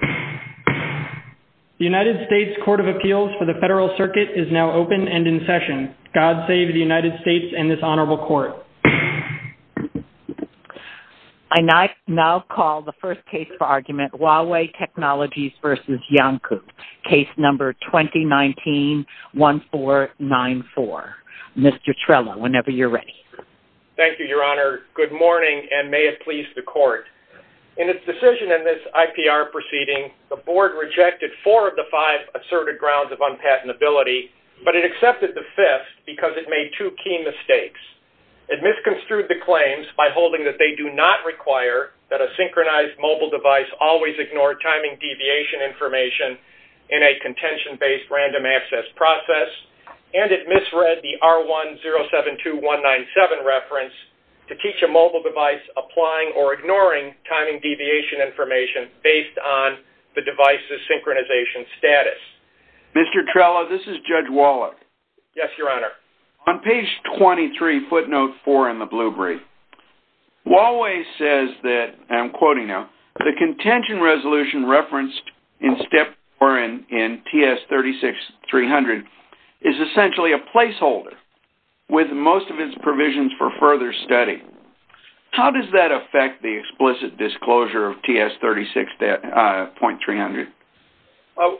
The United States Court of Appeals for the Federal Circuit is now open and in session. God save the United States and this Honorable Court. I now call the first case for argument, Huawei Technologies v. Iancu, case number 2019-1494. Mr. Trello, whenever you're ready. Thank you, Your Honor. Good morning, and may it please the Court. In its decision in this IPR proceeding, the Board rejected four of the five asserted grounds of unpatentability, but it accepted the fifth because it made two key mistakes. It misconstrued the claims by holding that they do not require that a synchronized mobile device always ignore timing deviation information in a contention-based random access process, and it misread the R1-072-197 reference to teach a mobile device applying or ignoring timing deviation information based on the device's synchronization status. Mr. Trello, this is Judge Wallach. Yes, Your Honor. On page 23, footnote 4 in the Blue Brief, Huawei says that, and I'm quoting now, the contention resolution referenced in TS-36-300 is essentially a placeholder, with most of its provisions for further study. How does that affect the explicit disclosure of TS-36.300?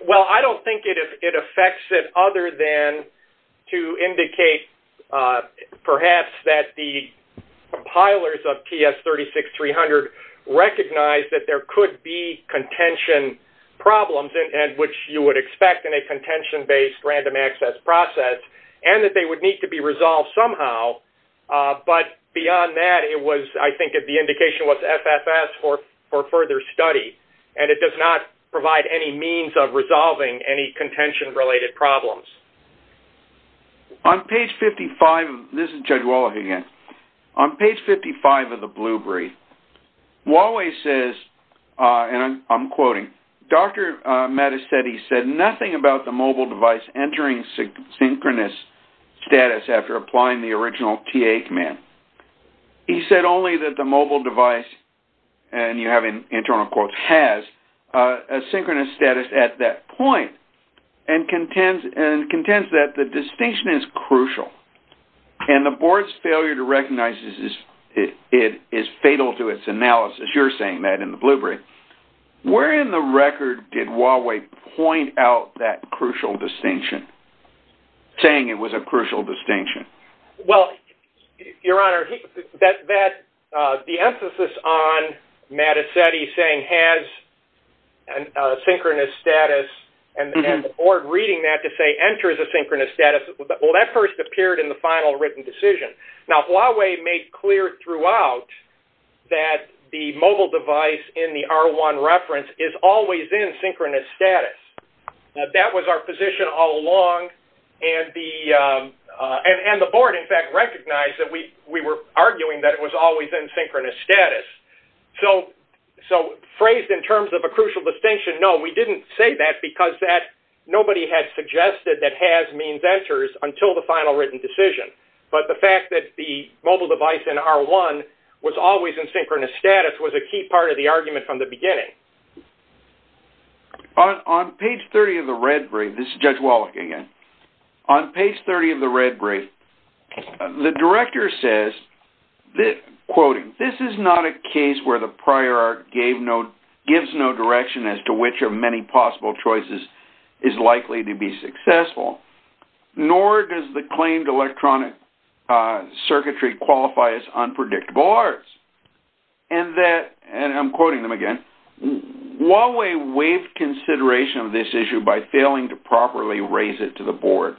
Well, I don't think it affects it other than to indicate perhaps that the compilers of TS-36-300 recognized that there could be contention problems, which you would expect in a contention-based random access process, and that they would need to be resolved somehow. But beyond that, I think the indication was FFS for further study, and it does not provide any means of resolving any contention-related problems. On page 55, this is Judge Wallach again. On page 55 of the Blue Brief, Huawei says, and I'm quoting, Dr. Mattis said he said nothing about the mobile device entering synchronous status after applying the original TA command. He said only that the mobile device, and you have internal quotes, has a synchronous status at that point, and contends that the distinction is crucial, and the board's failure to recognize it is fatal to its analysis. You're saying that in the Blue Brief. Where in the record did Huawei point out that crucial distinction, saying it was a crucial distinction? Well, Your Honor, the emphasis on Mattis saying has a synchronous status and the board reading that to say enters a synchronous status, well, that first appeared in the final written decision. Now, Huawei made clear throughout that the mobile device in the R1 reference is always in synchronous status. That was our position all along, and the board, in fact, recognized that we were arguing that it was always in synchronous status. So phrased in terms of a crucial distinction, no, we didn't say that because nobody had suggested that has means enters until the final written decision. But the fact that the mobile device in R1 was always in synchronous status was a key part of the argument from the beginning. On page 30 of the Red Brief, this is Judge Wallach again. On page 30 of the Red Brief, the director says, quoting, this is not a case where the prior art gives no direction as to which of many possible choices is likely to be successful, nor does the claimed electronic circuitry qualify as unpredictable arts. And that, and I'm quoting them again, Huawei waived consideration of this issue by failing to properly raise it to the board.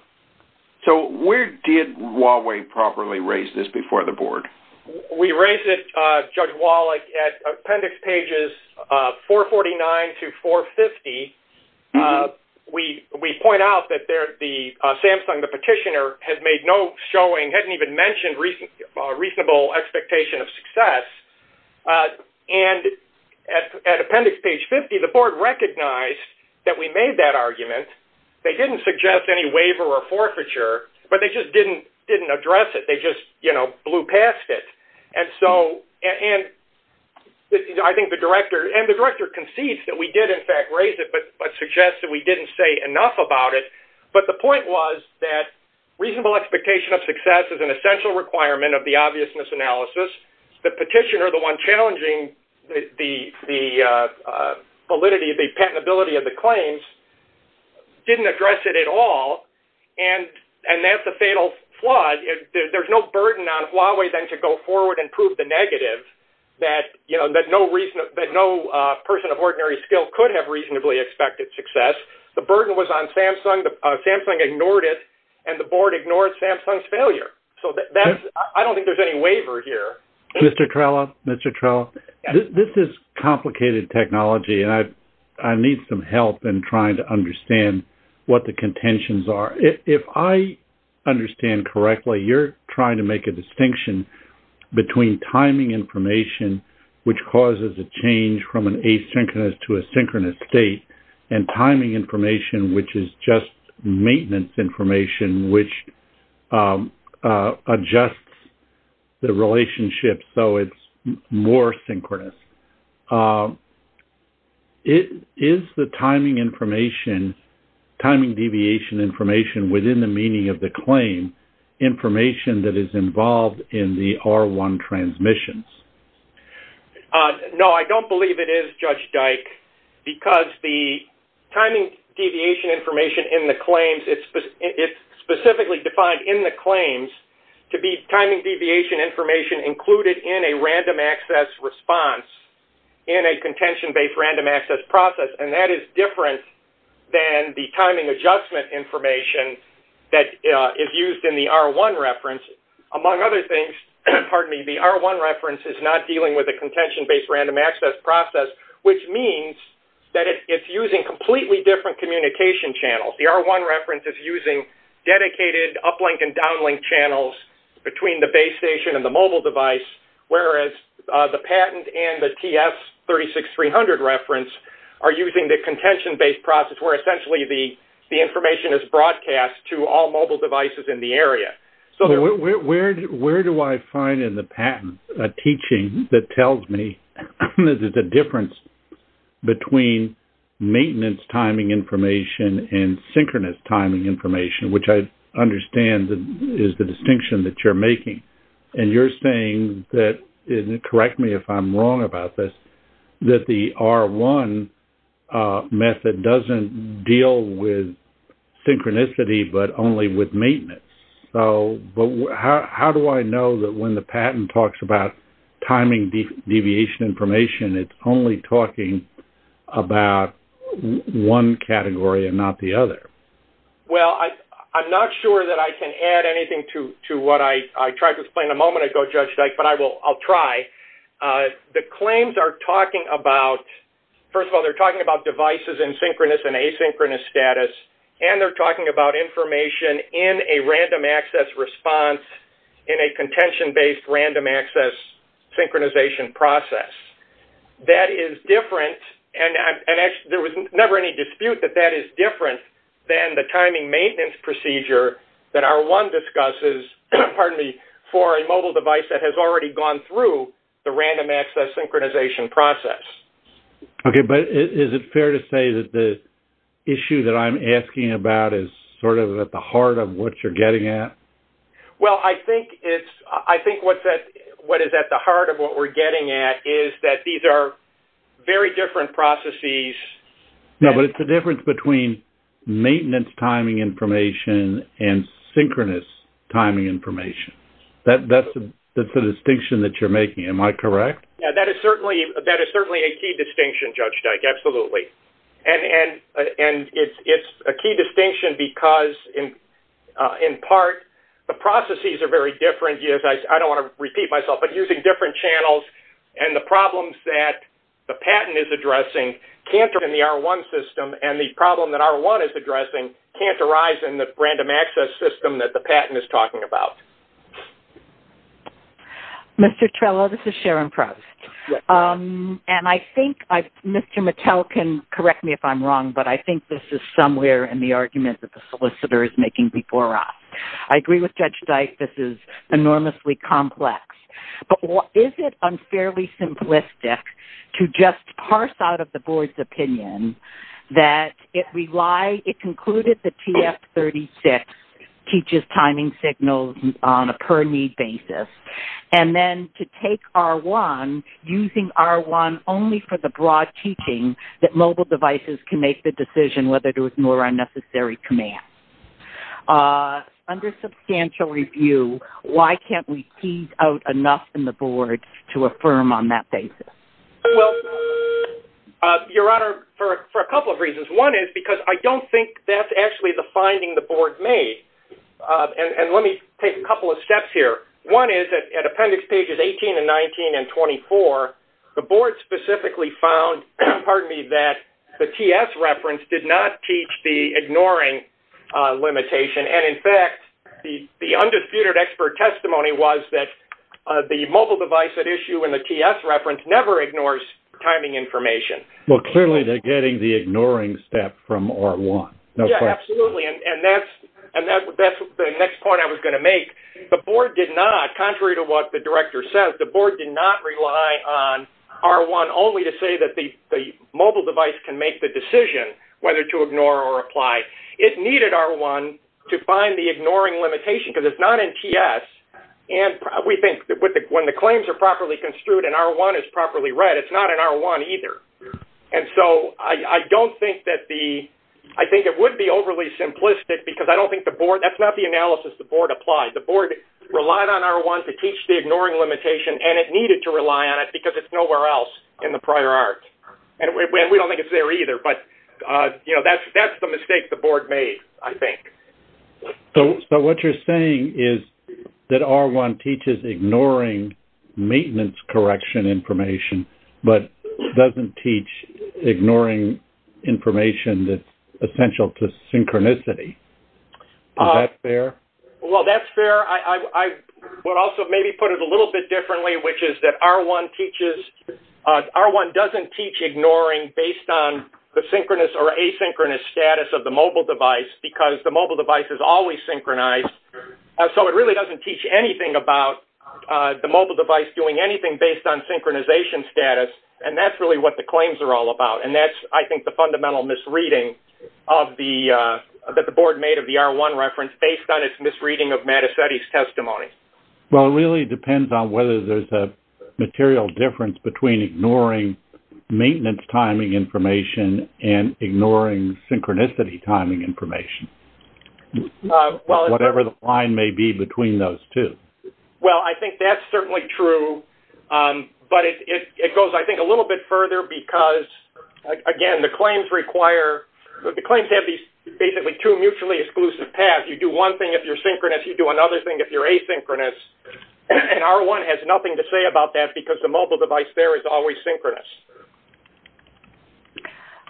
So where did Huawei properly raise this before the board? We raised it, Judge Wallach, at appendix pages 449 to 450. We point out that Samsung, the petitioner, has made no showing, hadn't even mentioned reasonable expectation of success. And at appendix page 50, the board recognized that we made that argument. They didn't suggest any waiver or forfeiture, but they just didn't address it. They just, you know, blew past it. And so, and I think the director, and the director concedes that we did in fact raise it, but suggests that we didn't say enough about it. But the point was that reasonable expectation of success is an essential requirement of the obviousness analysis. The petitioner, the one challenging the validity, the patentability of the claims, didn't address it at all, and that's a fatal flaw. There's no burden on Huawei then to go forward and prove the negative, that no person of ordinary skill could have reasonably expected success. The burden was on Samsung. Samsung ignored it, and the board ignored Samsung's failure. So that's, I don't think there's any waiver here. Mr. Trello, Mr. Trello, this is complicated technology, and I need some help in trying to understand what the contentions are. If I understand correctly, you're trying to make a distinction between timing information, which causes a change from an asynchronous to a synchronous state, and timing information, which is just maintenance information, which adjusts the relationship so it's more synchronous. Is the timing information, timing deviation information within the meaning of the claim, information that is involved in the R1 transmissions? No, I don't believe it is, Judge Dyke, because the timing deviation information in the claims, it's specifically defined in the claims to be timing deviation information included in a random access response in a contention-based random access process, and that is different than the timing adjustment information that is used in the R1 reference. Among other things, the R1 reference is not dealing with a contention-based random access process, which means that it's using completely different communication channels. The R1 reference is using dedicated uplink and downlink channels between the base station and the mobile device, whereas the patent and the TS36300 reference are using the contention-based process where essentially the information is broadcast to all mobile devices in the area. Where do I find in the patent a teaching that tells me that there's a difference between maintenance timing information and synchronous timing information, which I understand is the distinction that you're making? And you're saying that, and correct me if I'm wrong about this, that the R1 method doesn't deal with synchronicity but only with maintenance. But how do I know that when the patent talks about timing deviation information, it's only talking about one category and not the other? Well, I'm not sure that I can add anything to what I tried to explain a moment ago, Judge Dyke, but I'll try. The claims are talking about, first of all, they're talking about devices in synchronous and asynchronous status, and they're talking about information in a random access response in a contention-based random access synchronization process. That is different, and there was never any dispute that that is different than the timing the random access synchronization process. Okay, but is it fair to say that the issue that I'm asking about is sort of at the heart of what you're getting at? Well, I think what is at the heart of what we're getting at is that these are very different processes. No, but it's the difference between maintenance timing information and synchronous timing information. That's the distinction that you're making. Am I correct? Yeah, that is certainly a key distinction, Judge Dyke, absolutely. And it's a key distinction because, in part, the processes are very different. I don't want to repeat myself, but using different channels and the problems that the patent is addressing can't arise in the R1 system, and the problem that R1 is addressing can't arise in the random access system that the patent is talking about. Mr. Trello, this is Sharon Proust. And I think Mr. Mattel can correct me if I'm wrong, but I think this is somewhere in the argument that the solicitor is making before us. I agree with Judge Dyke. This is enormously complex. But is it unfairly simplistic to just parse out of the board's opinion that it concluded that the TF-36 teaches timing signals on a per-need basis, and then to take R1, using R1 only for the broad teaching that mobile devices can make the decision whether to ignore unnecessary commands? Under substantial review, why can't we tease out enough in the board to affirm on that basis? Well, Your Honor, for a couple of reasons. One is because I don't think that's actually the finding the board made. And let me take a couple of steps here. One is that at appendix pages 18 and 19 and 24, the board specifically found, pardon me, that the TS reference did not teach the ignoring limitation. And in fact, the undisputed expert testimony was that the mobile device at issue in the TS reference never ignores timing information. Well, clearly they're getting the ignoring step from R1. Yeah, absolutely, and that's the next point I was going to make. The board did not, contrary to what the director said, the board did not rely on R1 only to say that the mobile device can make the decision whether to ignore or apply. It needed R1 to find the ignoring limitation because it's not in TS. And we think that when the claims are properly construed and R1 is properly read, it's not in R1 either. And so I don't think that the – I think it would be overly simplistic because I don't think the board – that's not the analysis the board applied. The board relied on R1 to teach the ignoring limitation, and it needed to rely on it because it's nowhere else in the prior art. And we don't think it's there either, but, you know, that's the mistake the board made, I think. So what you're saying is that R1 teaches ignoring maintenance correction information but doesn't teach ignoring information that's essential to synchronicity. Is that fair? Well, that's fair. I would also maybe put it a little bit differently, which is that R1 teaches – R1 doesn't teach ignoring based on the synchronous or asynchronous status of the mobile device because the mobile device is always synchronized. So it really doesn't teach anything about the mobile device doing anything based on synchronization status, and that's really what the claims are all about. And that's, I think, the fundamental misreading of the – that the board made of the R1 reference based on its misreading of Mattacetti's testimony. Well, it really depends on whether there's a material difference between ignoring maintenance timing information and ignoring synchronicity timing information, whatever the line may be between those two. Well, I think that's certainly true, but it goes, I think, a little bit further because, again, the claims require – the claims have these basically two mutually exclusive paths. You do one thing if you're synchronous. You do another thing if you're asynchronous. And R1 has nothing to say about that because the mobile device there is always synchronous.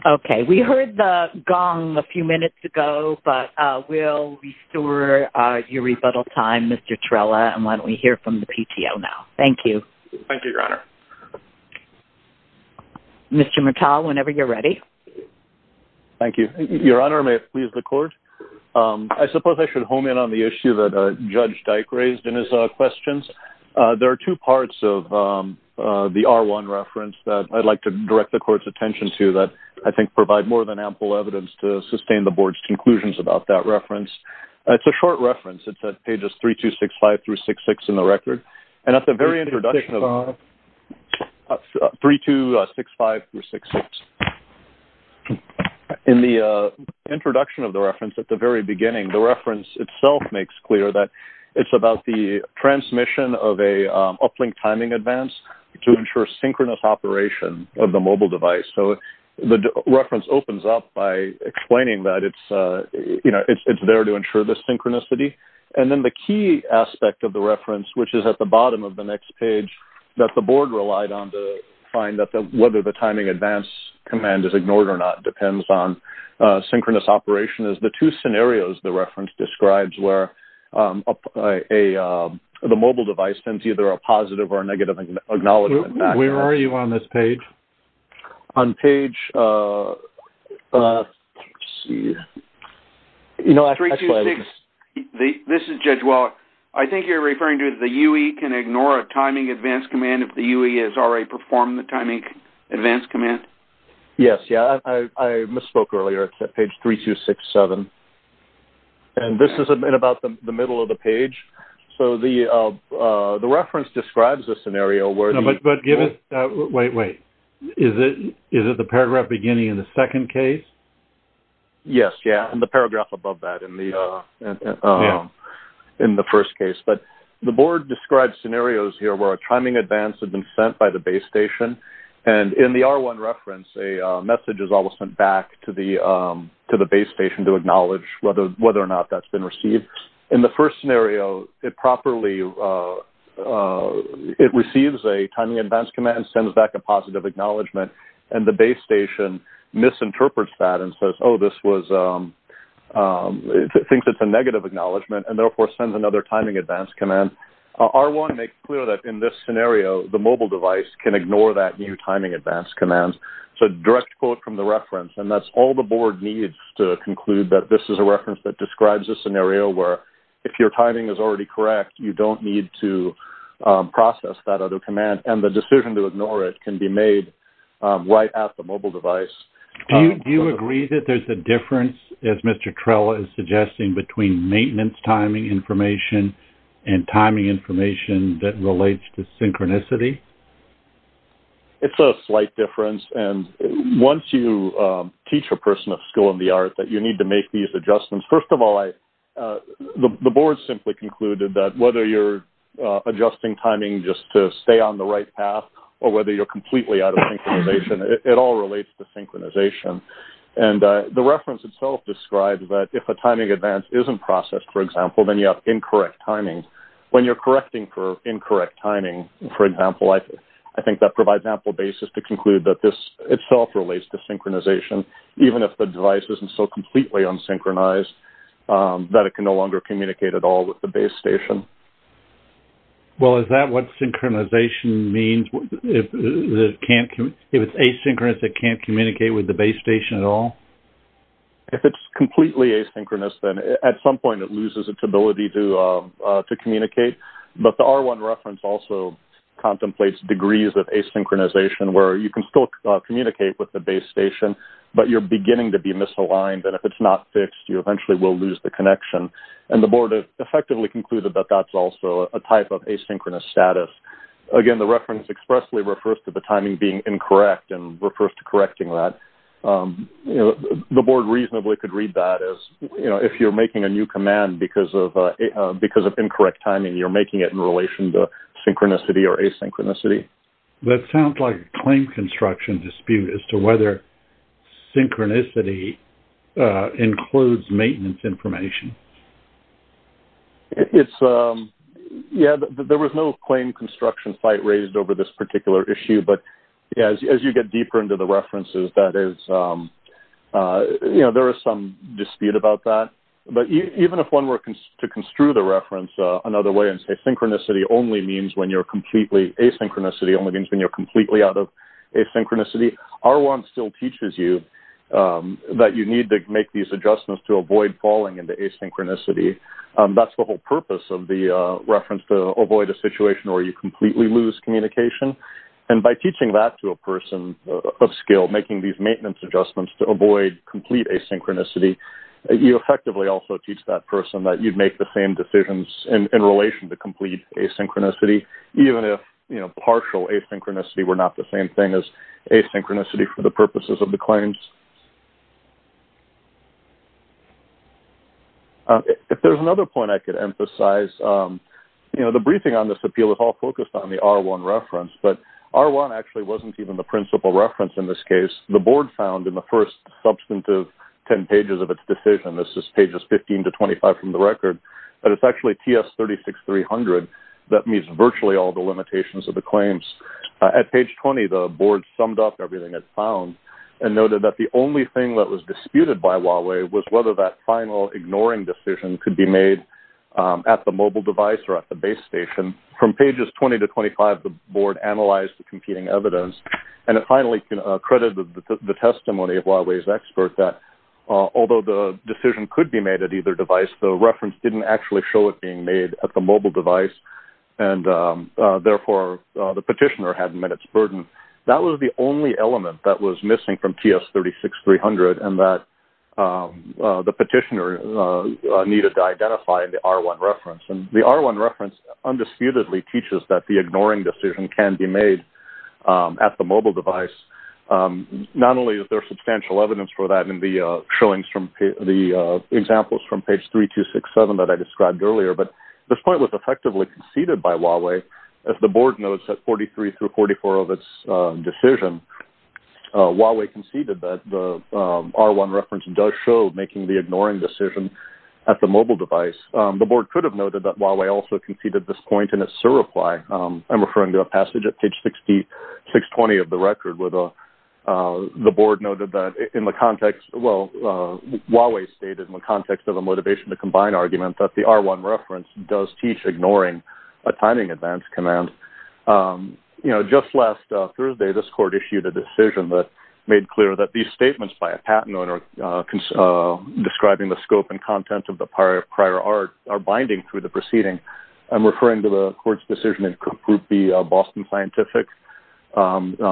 Okay. We heard the gong a few minutes ago, but we'll restore your rebuttal time, Mr. Trella, and why don't we hear from the PTO now. Thank you. Thank you, Your Honor. Mr. Mattal, whenever you're ready. Thank you. Your Honor, may it please the Court? I suppose I should home in on the issue that Judge Dyke raised in his questions. There are two parts of the R1 reference that I'd like to direct the Court's attention to that, I think, provide more than ample evidence to sustain the Board's conclusions about that reference. It's a short reference. It's at pages 3265 through 666 in the record. And at the very introduction of – 3265. 3265 through 666. In the introduction of the reference at the very beginning, the reference itself makes clear that it's about the transmission of an uplink timing advance to ensure synchronous operation of the mobile device. So the reference opens up by explaining that it's there to ensure the synchronicity. And then the key aspect of the reference, which is at the bottom of the next page, that the Board relied on to find that whether the timing advance command is ignored or not depends on synchronous operation is the two scenarios the reference describes where the mobile device sends either a positive or a negative acknowledgement back. Where are you on this page? On page – let's see. 326 – this is Judge Wallach. I think you're referring to the UE can ignore a timing advance command if the UE has already performed the timing advance command. Yes, yeah. I misspoke earlier. It's at page 3267. And this is about the middle of the page. So the reference describes a scenario where – But give us – wait, wait. Is it the paragraph beginning in the second case? Yes, yeah, in the paragraph above that in the first case. But the Board describes scenarios here where a timing advance had been sent by the base station. And in the R1 reference, a message is always sent back to the base station to acknowledge whether or not that's been received. In the first scenario, it properly – it receives a timing advance command, sends back a positive acknowledgement, and the base station misinterprets that and says, oh, this was – thinks it's a negative acknowledgement and therefore sends another timing advance command. R1 makes clear that in this scenario, the mobile device can ignore that new timing advance command. So direct quote from the reference, and that's all the Board needs to conclude that this is a reference that describes a scenario where if your timing is already correct, you don't need to process that other command. And the decision to ignore it can be made right at the mobile device. Do you agree that there's a difference, as Mr. Trella is suggesting, between maintenance timing information and timing information that relates to synchronicity? It's a slight difference. And once you teach a person a skill in the art, that you need to make these adjustments. First of all, the Board simply concluded that whether you're adjusting timing just to stay on the right path or whether you're completely out of synchronization, it all relates to synchronization. And the reference itself describes that if a timing advance isn't processed, for example, then you have incorrect timing. When you're correcting for incorrect timing, for example, I think that provides ample basis to conclude that this itself relates to synchronization, even if the device isn't so completely unsynchronized that it can no longer communicate at all with the base station. Well, is that what synchronization means? If it's asynchronous, it can't communicate with the base station at all? If it's completely asynchronous, then at some point it loses its ability to communicate. But the R1 reference also contemplates degrees of asynchronization where you can still communicate with the base station, but you're beginning to be misaligned. And if it's not fixed, you eventually will lose the connection. And the board has effectively concluded that that's also a type of asynchronous status. Again, the reference expressly refers to the timing being incorrect and refers to correcting that. The board reasonably could read that as, you know, if you're making a new command because of incorrect timing, you're making it in relation to synchronicity or asynchronicity. That sounds like a claim construction dispute as to whether synchronicity includes maintenance information. Yeah, there was no claim construction fight raised over this particular issue. But as you get deeper into the references, that is, you know, there is some dispute about that. But even if one were to construe the reference another way and say completely asynchronicity only means when you're completely out of asynchronicity, R1 still teaches you that you need to make these adjustments to avoid falling into asynchronicity. That's the whole purpose of the reference to avoid a situation where you completely lose communication. And by teaching that to a person of skill, making these maintenance adjustments to avoid complete asynchronicity, you effectively also teach that person that you'd make the same decisions in relation to complete asynchronicity, even if, you know, partial asynchronicity were not the same thing as asynchronicity for the purposes of the claims. If there's another point I could emphasize, you know, the briefing on this appeal is all focused on the R1 reference, but R1 actually wasn't even the principal reference in this case. The board found in the first substantive 10 pages of its decision, this is pages 15 to 25 from the record, that it's actually TS36300 that meets virtually all the limitations of the claims. At page 20, the board summed up everything it found and noted that the only thing that was disputed by Huawei was whether that final ignoring decision could be made at the mobile device or at the base station. From pages 20 to 25, the board analyzed the competing evidence, and it finally credited the testimony of Huawei's expert that although the decision could be made at either device, the reference didn't actually show it being made at the mobile device, and therefore the petitioner hadn't met its burden. That was the only element that was missing from TS36300 and that the petitioner needed to identify in the R1 reference. And the R1 reference undisputedly teaches that the ignoring decision can be made at the mobile device. Not only is there substantial evidence for that in the examples from page 3267 that I described earlier, but this point was effectively conceded by Huawei. As the board notes, at 43 through 44 of its decision, Huawei conceded that the R1 reference does show making the ignoring decision at the mobile device. The board could have noted that Huawei also conceded this point in a surreply. I'm referring to a passage at page 620 of the record where Huawei stated in the context of a motivation to combine argument that the R1 reference does teach ignoring a timing advance command. Just last Thursday, this court issued a decision that made clear that these statements by a patent owner describing the scope and content of the prior art are binding through the proceeding. I'm referring to the court's decision in Group B, Boston Scientific, number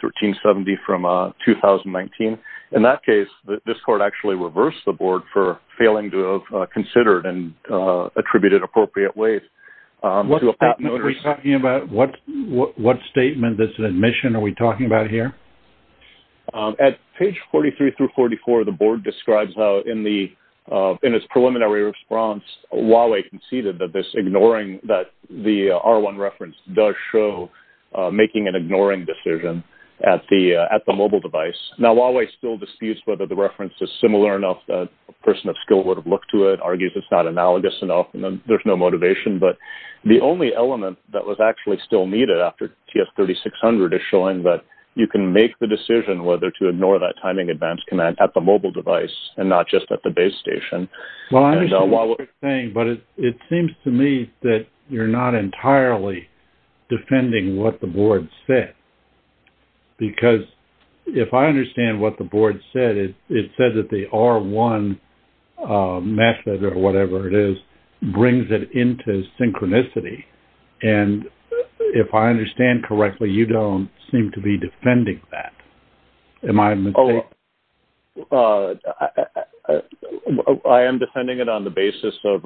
1370 from 2019. In that case, this court actually reversed the board for failing to have considered and attributed appropriate ways to a patent owner. What statement are we talking about? What statement, this admission are we talking about here? At page 43 through 44, the board describes how in its preliminary response, Huawei conceded that this ignoring that the R1 reference does show making an ignoring decision at the mobile device. Now, Huawei still disputes whether the reference is similar enough that a person of skill would have looked to it, argues it's not analogous enough, and there's no motivation. But the only element that was actually still needed after TS 3600 is showing that you can make the decision whether to ignore that timing advance command at the mobile device and not just at the base station. Well, I understand what you're saying, but it seems to me that you're not entirely defending what the board said. Because if I understand what the board said, it said that the R1 method or whatever it is brings it into synchronicity. And if I understand correctly, you don't seem to be defending that. Am I mistaken? Well, I am defending it on the basis of,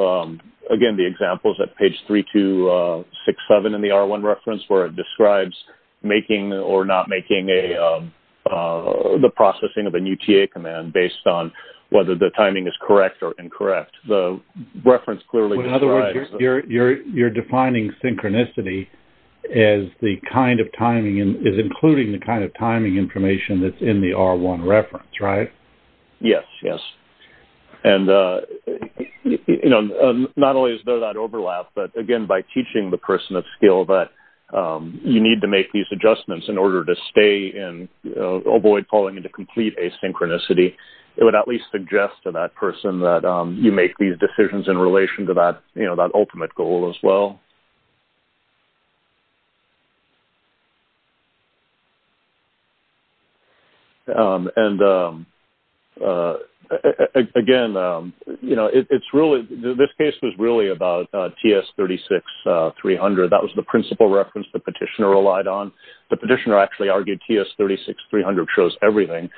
again, the examples at page 3267 in the R1 reference where it describes making or not making the processing of a new TA command based on whether the timing is correct or incorrect. The reference clearly describes... In other words, you're defining synchronicity as the kind of timing, is including the kind of timing information that's in the R1 reference, right? Yes, yes. And not only is there that overlap, but again, by teaching the person of skill that you need to make these adjustments in order to stay and avoid falling into complete asynchronicity, it would at least suggest to that person that you make these decisions in relation to that ultimate goal as well. And again, you know, it's really... This case was really about TS-36-300. That was the principal reference the petitioner relied on. The petitioner actually argued TS-36-300 shows everything.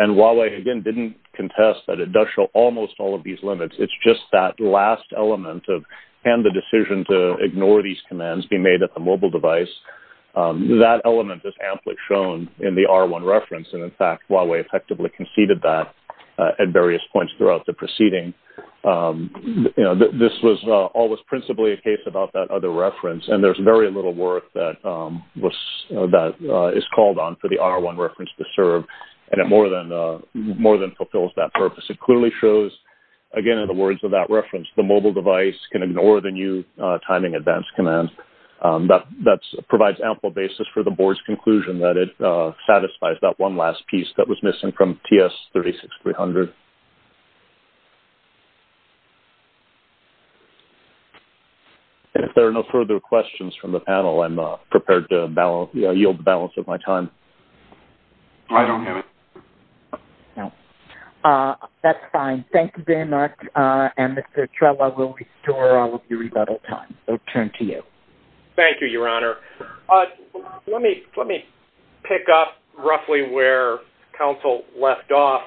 And Huawei, again, didn't contest that it does show almost all of these limits. It's just that last element and the decision to ignore these commands being made at the mobile device. That element is amply shown in the R1 reference. And in fact, Huawei effectively conceded that at various points throughout the proceeding. You know, this was always principally a case about that other reference. And there's very little work that is called on for the R1 reference to serve. And it more than fulfills that purpose. It clearly shows, again, in the words of that reference, the mobile device can ignore the new timing advance command. That provides ample basis for the board's conclusion that it satisfies that one last piece that was missing from TS-36-300. If there are no further questions from the panel, I'm prepared to yield the balance of my time. I don't have it. No. That's fine. Thank you very much. And Mr. Trella will restore all of your rebuttal time. I'll turn to you. Thank you, Your Honor. Let me pick up roughly where counsel left off.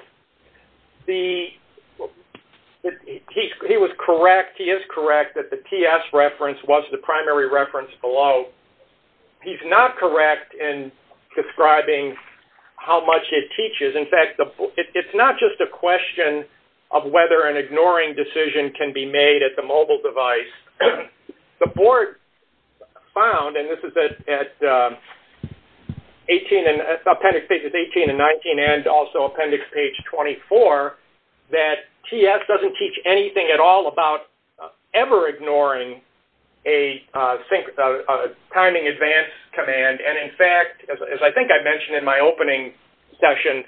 He was correct, he is correct, that the TS reference was the primary reference below. He's not correct in describing how much it teaches. In fact, it's not just a question of whether an ignoring decision can be made at the mobile device. The board found, and this is at appendix pages 18 and 19 and also appendix page 24, that TS doesn't teach anything at all about ever ignoring a timing advance command. And in fact, as I think I mentioned in my opening section,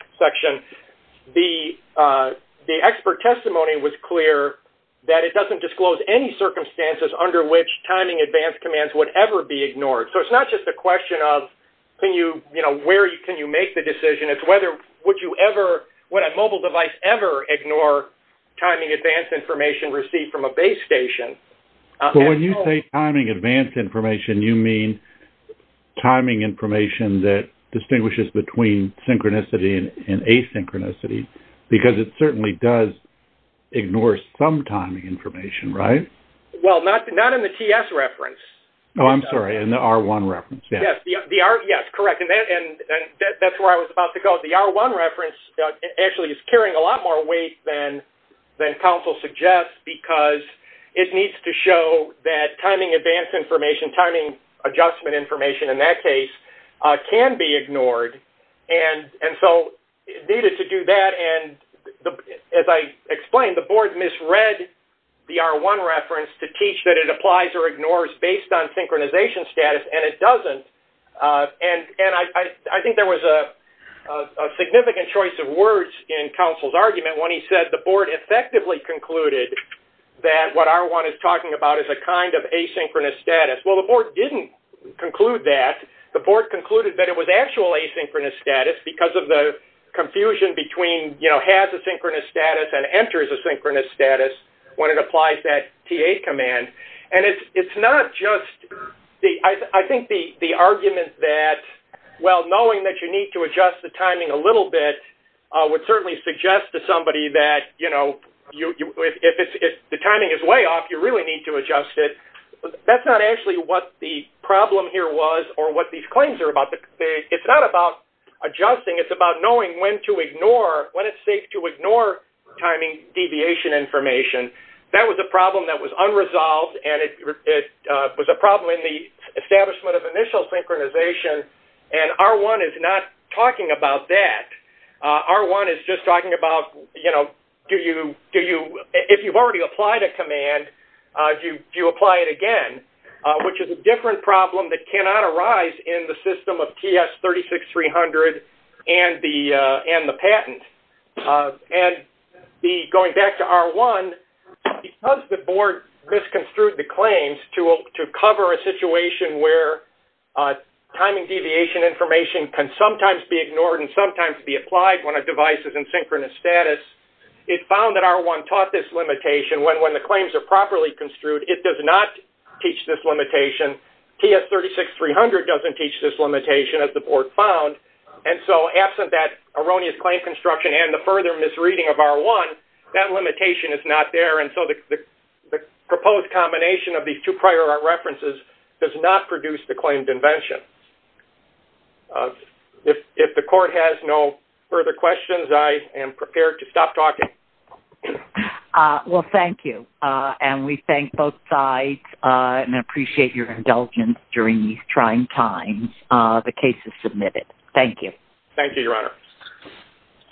the expert testimony was clear that it doesn't disclose any circumstances under which timing advance commands would ever be ignored. So it's not just a question of where can you make the decision, it's whether would a mobile device ever ignore timing advance information received from a base station. So when you say timing advance information, you mean timing information that distinguishes between synchronicity and asynchronicity because it certainly does ignore some timing information, right? Well, not in the TS reference. Oh, I'm sorry, in the R1 reference, yes. Yes, correct, and that's where I was about to go. The R1 reference actually is carrying a lot more weight than counsel suggests because it needs to show that timing advance information, timing adjustment information in that case, can be ignored. And so it needed to do that, and as I explained, the board misread the R1 reference to teach that it applies or ignores based on synchronization status, and it doesn't. And I think there was a significant choice of words in counsel's argument when he said the board effectively concluded that what R1 is talking about is a kind of asynchronous status. Well, the board didn't conclude that. The board concluded that it was actual asynchronous status because of the confusion between, you know, has asynchronous status and enters asynchronous status when it applies that TA command. And it's not just the – I think the argument that, well, knowing that you need to adjust the timing a little bit would certainly suggest to somebody that, you know, if the timing is way off, you really need to adjust it. That's not actually what the problem here was or what these claims are about. It's not about adjusting. It's about knowing when to ignore, when it's safe to ignore timing deviation information. That was a problem that was unresolved, and it was a problem in the establishment of initial synchronization. And R1 is not talking about that. R1 is just talking about, you know, do you – if you've already applied a command, do you apply it again, which is a different problem that cannot arise in the system of TS36300 and the patent. And going back to R1, because the board misconstrued the claims to cover a timing deviation information can sometimes be ignored and sometimes be applied when a device is in synchronous status, it found that R1 taught this limitation. When the claims are properly construed, it does not teach this limitation. TS36300 doesn't teach this limitation, as the board found. And so absent that erroneous claim construction and the further misreading of R1, that limitation is not there. And so the proposed combination of these two prior references does not produce the claimed invention. If the court has no further questions, I am prepared to stop talking. Well, thank you. And we thank both sides and appreciate your indulgence during these trying times. The case is submitted. Thank you. Thank you, Your Honor.